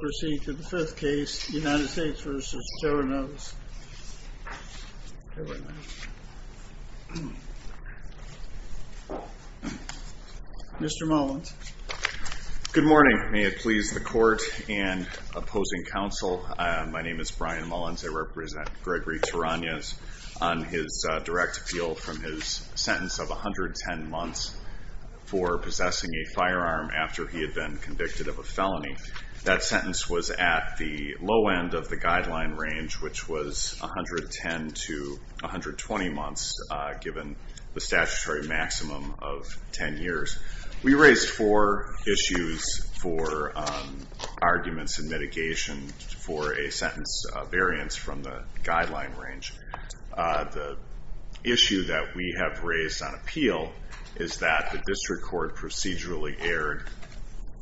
Proceed to the fifth case, United States v. Terronez. Mr. Mullins. Good morning. May it please the court and opposing counsel. My name is Brian Mullins. I represent Gregory Terronez on his direct appeal from his sentence of 110 months for possessing a firearm after he had been convicted of a felony. That sentence was at the low end of the guideline range, which was 110 to 120 months, given the statutory maximum of 10 years. We raised four issues for arguments and mitigation for a sentence variance from the guideline range. The issue that we have raised on appeal is that the district court procedurally erred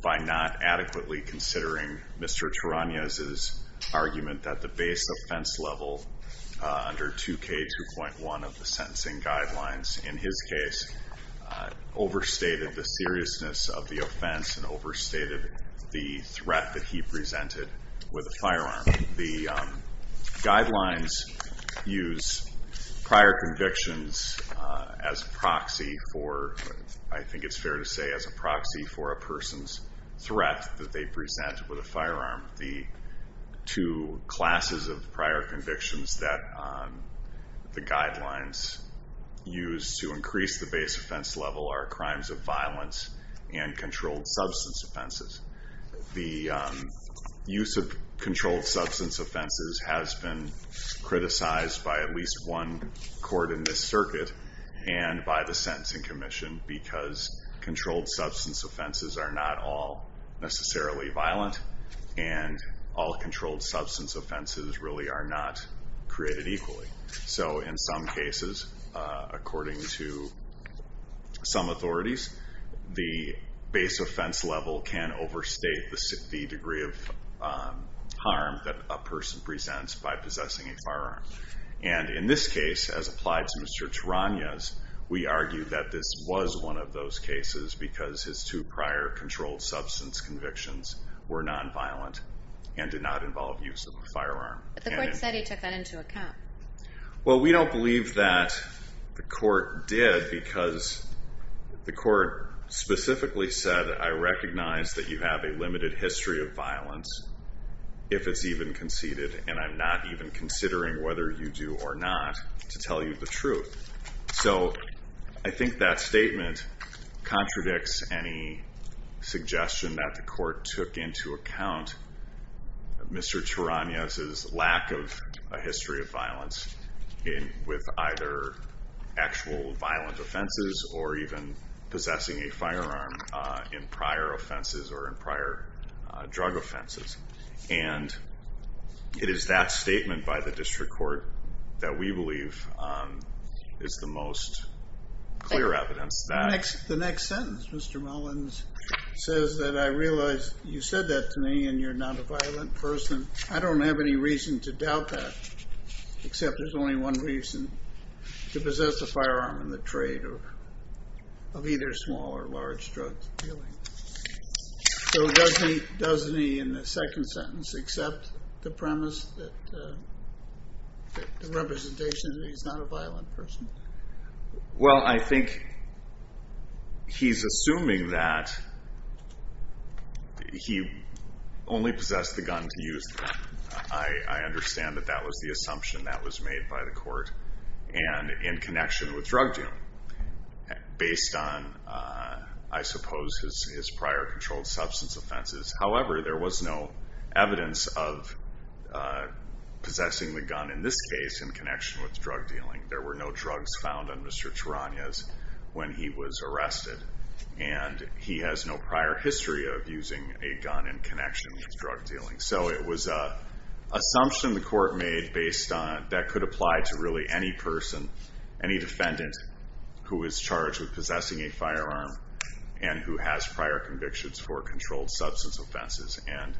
by not adequately considering Mr. Terronez's argument that the base offense level under 2K2.1 of the sentencing guidelines, in his case, overstated the seriousness of the offense and overstated the threat that he presented with a firearm. The guidelines use prior convictions as proxy for, I think it's fair to say, as a proxy for a person's threat that they present with a firearm. The two classes of prior convictions that the guidelines use to increase the base offense level are crimes of violence and controlled substance offenses. The use of controlled substance offenses has been criticized by at least one person for using a firearm, and the use of controlled substance offenses are not all necessarily violent, and all controlled substance offenses really are not created equally, so in some cases, according to some authorities, the base offense level can overstate the degree of harm that a person presents by possessing a firearm. In this case, as applied to Mr. Terronez, we argue that this was one of those cases because his two prior controlled substance convictions were nonviolent and did not involve use of a firearm. But the court said he took that into account. Well, we don't believe that the court did because the court specifically said, I recognize that you have a limited history of violence if it's even conceded, and I'm not even considering whether you do or not to tell you the truth. So I think that statement contradicts any suggestion that the court took into account Mr. Terronez's lack of a history of violence with either actual violent offenses or even possessing a firearm in prior offenses or in prior drug offenses. And it is that statement by the district court that we believe is the most clear evidence that... The next sentence, Mr. Mullins, says that I realize you said that to me and you're not a violent person. I don't have any reason to doubt that, except there's only one reason, to possess a firearm in the trade of either small or large drug dealing. So does he, in the second sentence, accept the premise that the representation that he's not a violent person? Well, I think he's assuming that he only possessed the gun to use. I understand that that was the assumption that was made by the court and in connection with drug dealing based on, I suppose, his prior controlled substance offenses. However, there was no evidence of possessing the gun in this case in connection with drug dealing. There were no drugs found on Mr. Terronez when he was arrested and he has no prior history of using a gun in connection with drug dealing. So it was an assumption the court made that could apply to really any person, any defendant who is charged with possessing a firearm and who has prior convictions for controlled substance offenses. And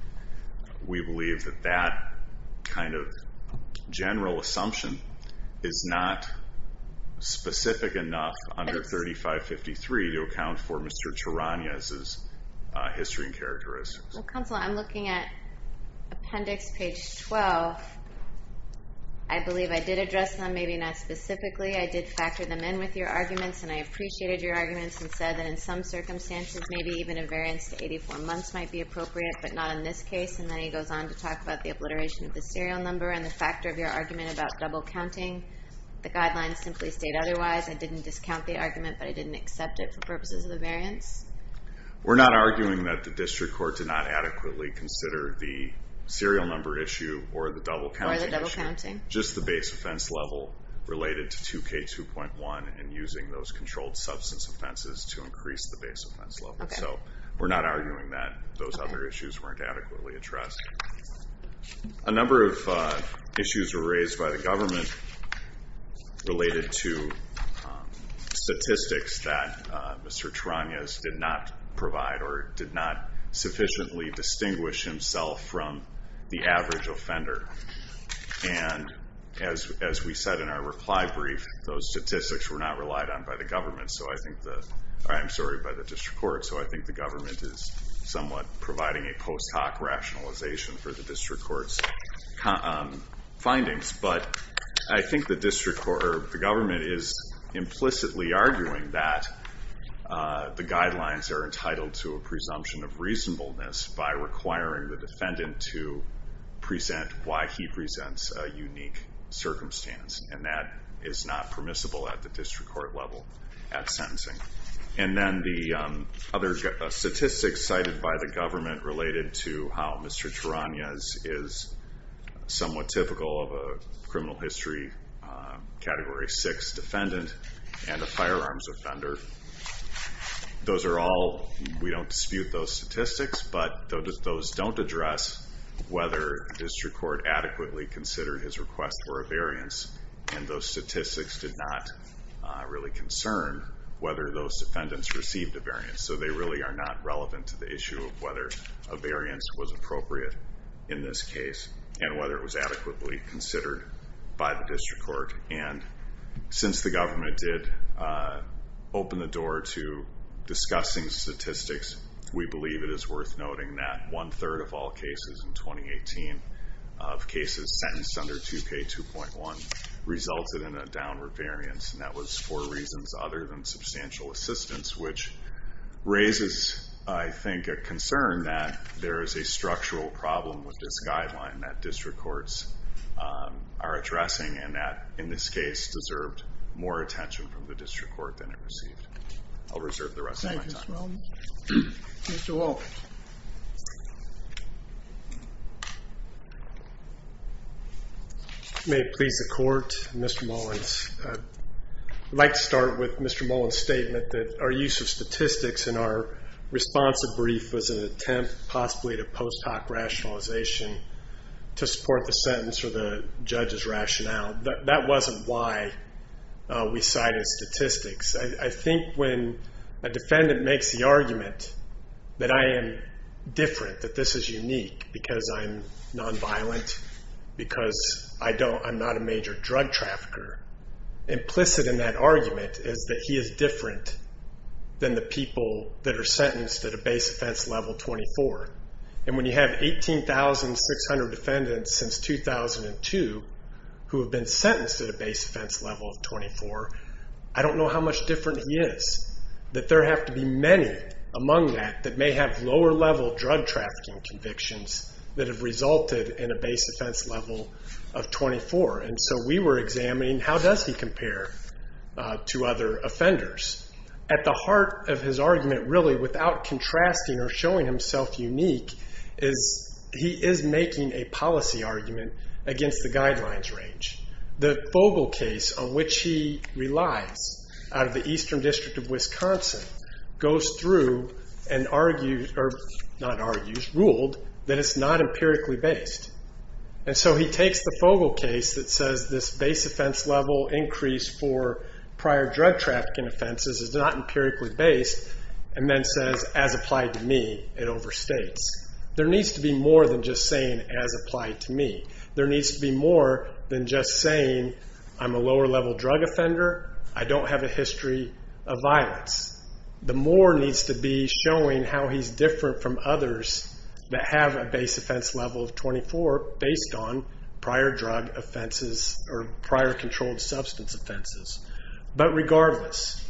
we believe that that kind of general assumption is not specific enough under 3553 to account for Mr. Terronez's history and characteristics. Well, counsel, I'm looking at appendix page 12. I believe I did address them, maybe not specifically. I did factor them in with your arguments and I appreciated your arguments and said that in some circumstances, maybe even a variance to 84 months might be appropriate, but not in this case. And then he goes on to talk about the obliteration of the serial number and the factor of your argument about double counting. The guidelines simply state otherwise. I didn't discount the argument, but I didn't accept it for purposes of the variance. We're not arguing that the district court did not adequately consider the serial number issue or the double counting issue, just the base offense level related to 2K2.1 and using those controlled substance offenses to increase the base offense level. So we're not arguing that those other issues weren't adequately addressed. A number of issues were raised by the government related to statistics that Mr. Tarangas did not provide or did not sufficiently distinguish himself from the average offender. And as we said in our reply brief, those statistics were not relied on by the government. So I think the, I'm sorry, by the district court. So I think the government is somewhat providing a post hoc rationalization for the district court's findings. But I think the district court or the government is implicitly arguing that the guidelines are entitled to a presumption of reasonableness by requiring the defendant to present why he presents a unique circumstance. And that is not permissible at the district court level at sentencing. And then the other statistics cited by the government related to how Mr. Tarangas is a criminal history category six defendant and a firearms offender. Those are all, we don't dispute those statistics, but those don't address whether district court adequately considered his request for a variance. And those statistics did not really concern whether those defendants received a variance. So they really are not relevant to the issue of whether a variance was considered by the district court. And since the government did open the door to discussing statistics, we believe it is worth noting that one third of all cases in 2018 of cases sentenced under 2K2.1 resulted in a downward variance and that was for reasons other than substantial assistance, which raises, I think, a concern that there is a structural problem with this guideline that we are addressing and that, in this case, deserved more attention from the district court than it received. I'll reserve the rest of my time. May it please the court, Mr. Mullins, I'd like to start with Mr. Mullins' statement that our use of statistics in our responsive brief was an attempt possibly to post hoc rationalization to support the sentence or the judge's rationale. That wasn't why we cited statistics. I think when a defendant makes the argument that I am different, that this is unique because I'm nonviolent, because I'm not a major drug trafficker, implicit in that argument is that he is different than the people that are sentenced at a base offense level 24. And when you have 18,600 defendants since 2002 who have been sentenced at a base offense level of 24, I don't know how much different he is, that there have to be many among that that may have lower level drug trafficking convictions that have resulted in a base offense level of 24. And so we were examining how does he compare to other offenders. At the heart of his argument, really, without contrasting or showing himself unique, is he is making a policy argument against the guidelines range. The Fogel case on which he relies out of the Eastern District of Wisconsin goes through and argued, or not argued, ruled that it's not empirically based. And so he takes the Fogel case that says this base offense level increase for prior drug trafficking offenses is not empirically based, and then says, as applied to me, it overstates. There needs to be more than just saying, as applied to me. There needs to be more than just saying, I'm a lower level drug offender. I don't have a history of violence. The more needs to be showing how he's different from others that have a base offense level of 24 based on prior drug offenses or prior controlled substance offenses. But regardless,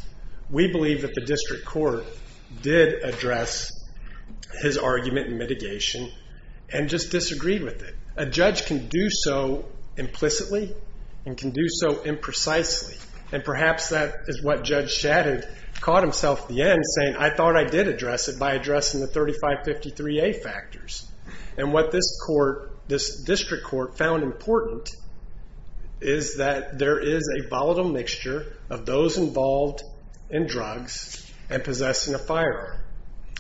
we believe that the district court did address his argument in mitigation and just disagreed with it. A judge can do so implicitly and can do so imprecisely. And perhaps that is what Judge Shadid caught himself at the end saying, I thought I did address it by addressing the 3553A factors. And what this court, this district court, found important is that there is a volatile mixture of those involved in drugs and possessing a firearm.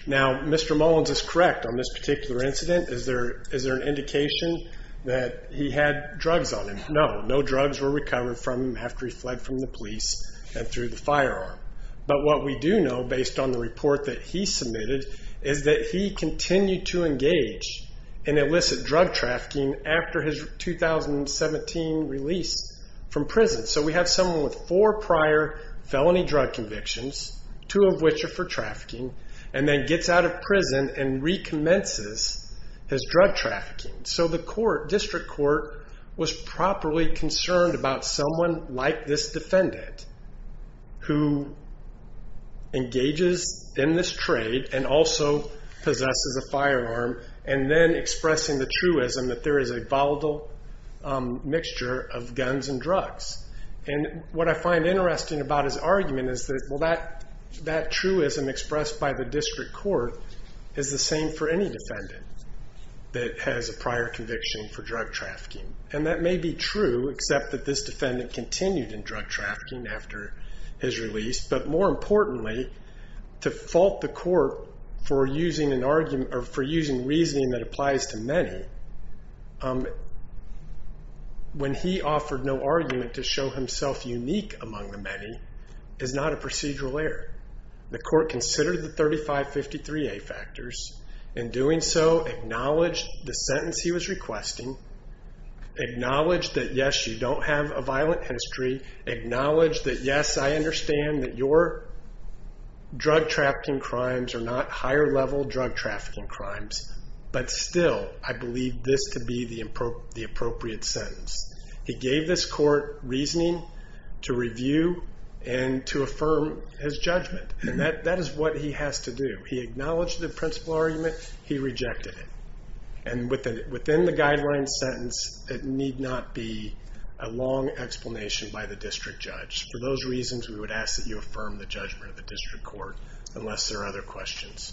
Now, Mr. Mullins is correct on this particular incident. Is there is there an indication that he had drugs on him? No, no drugs were recovered from him after he fled from the police and through the firearm. But what we do know, based on the report that he submitted, is that he continued to engage in illicit drug trafficking after his 2017 release from prison. He's someone with four prior felony drug convictions, two of which are for trafficking, and then gets out of prison and recommences his drug trafficking. So the court, district court, was properly concerned about someone like this defendant who engages in this trade and also possesses a firearm and then expressing the truism that there is a volatile mixture of guns and drugs. And what I find interesting about his argument is that, well, that that truism expressed by the district court is the same for any defendant that has a prior conviction for drug trafficking. And that may be true, except that this defendant continued in drug trafficking after his release. But more importantly, to fault the court for using an argument or for using reasoning that applies to many, when he offered no argument to show himself unique among the many, is not a procedural error. The court considered the 3553A factors. In doing so, acknowledged the sentence he was requesting, acknowledged that, yes, you don't have a violent history, acknowledged that, yes, I understand that your drug trafficking crimes are not higher level drug trafficking crimes, but still, I believe this to be the appropriate sentence. He gave this court reasoning to review and to affirm his judgment. And that is what he has to do. He acknowledged the principal argument, he rejected it. And within the guideline sentence, it need not be a long explanation by the district judge. For those reasons, we would ask that you affirm the judgment of the district court, unless there are other questions.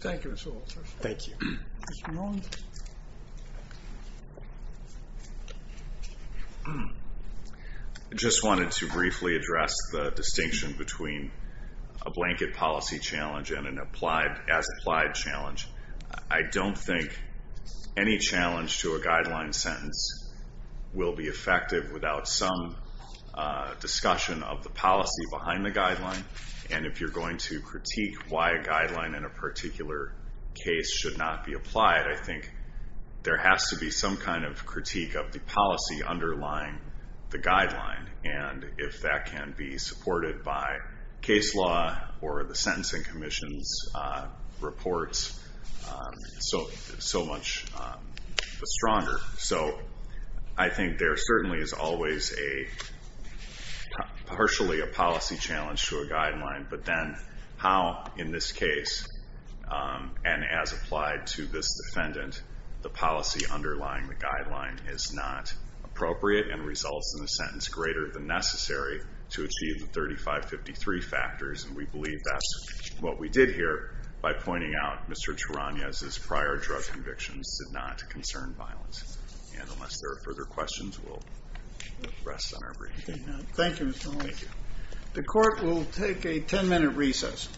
Thank you, Mr. Walter. Thank you. I just wanted to briefly address the distinction between a blanket policy challenge and an applied, as applied challenge. I don't think any challenge to a guideline sentence will be effective without some discussion of the policy behind the guideline. And if you're going to critique why a guideline in a particular case should not be applied, I think there has to be some kind of critique of the policy underlying the guideline. And if that can be supported by case law or the sentencing commission's reports, so much the stronger. So I think there certainly is always a partially a policy challenge to a guideline. But then how in this case, and as applied to this defendant, the policy underlying the guideline is not appropriate and results in a sentence greater than necessary to achieve the 3553 factors. And we believe that's what we did here by pointing out Mr. Walters' convictions did not concern violence. And unless there are further questions, we'll rest on our brief. Thank you, Mr. Walter. Thank you. The court will take a 10 minute recess.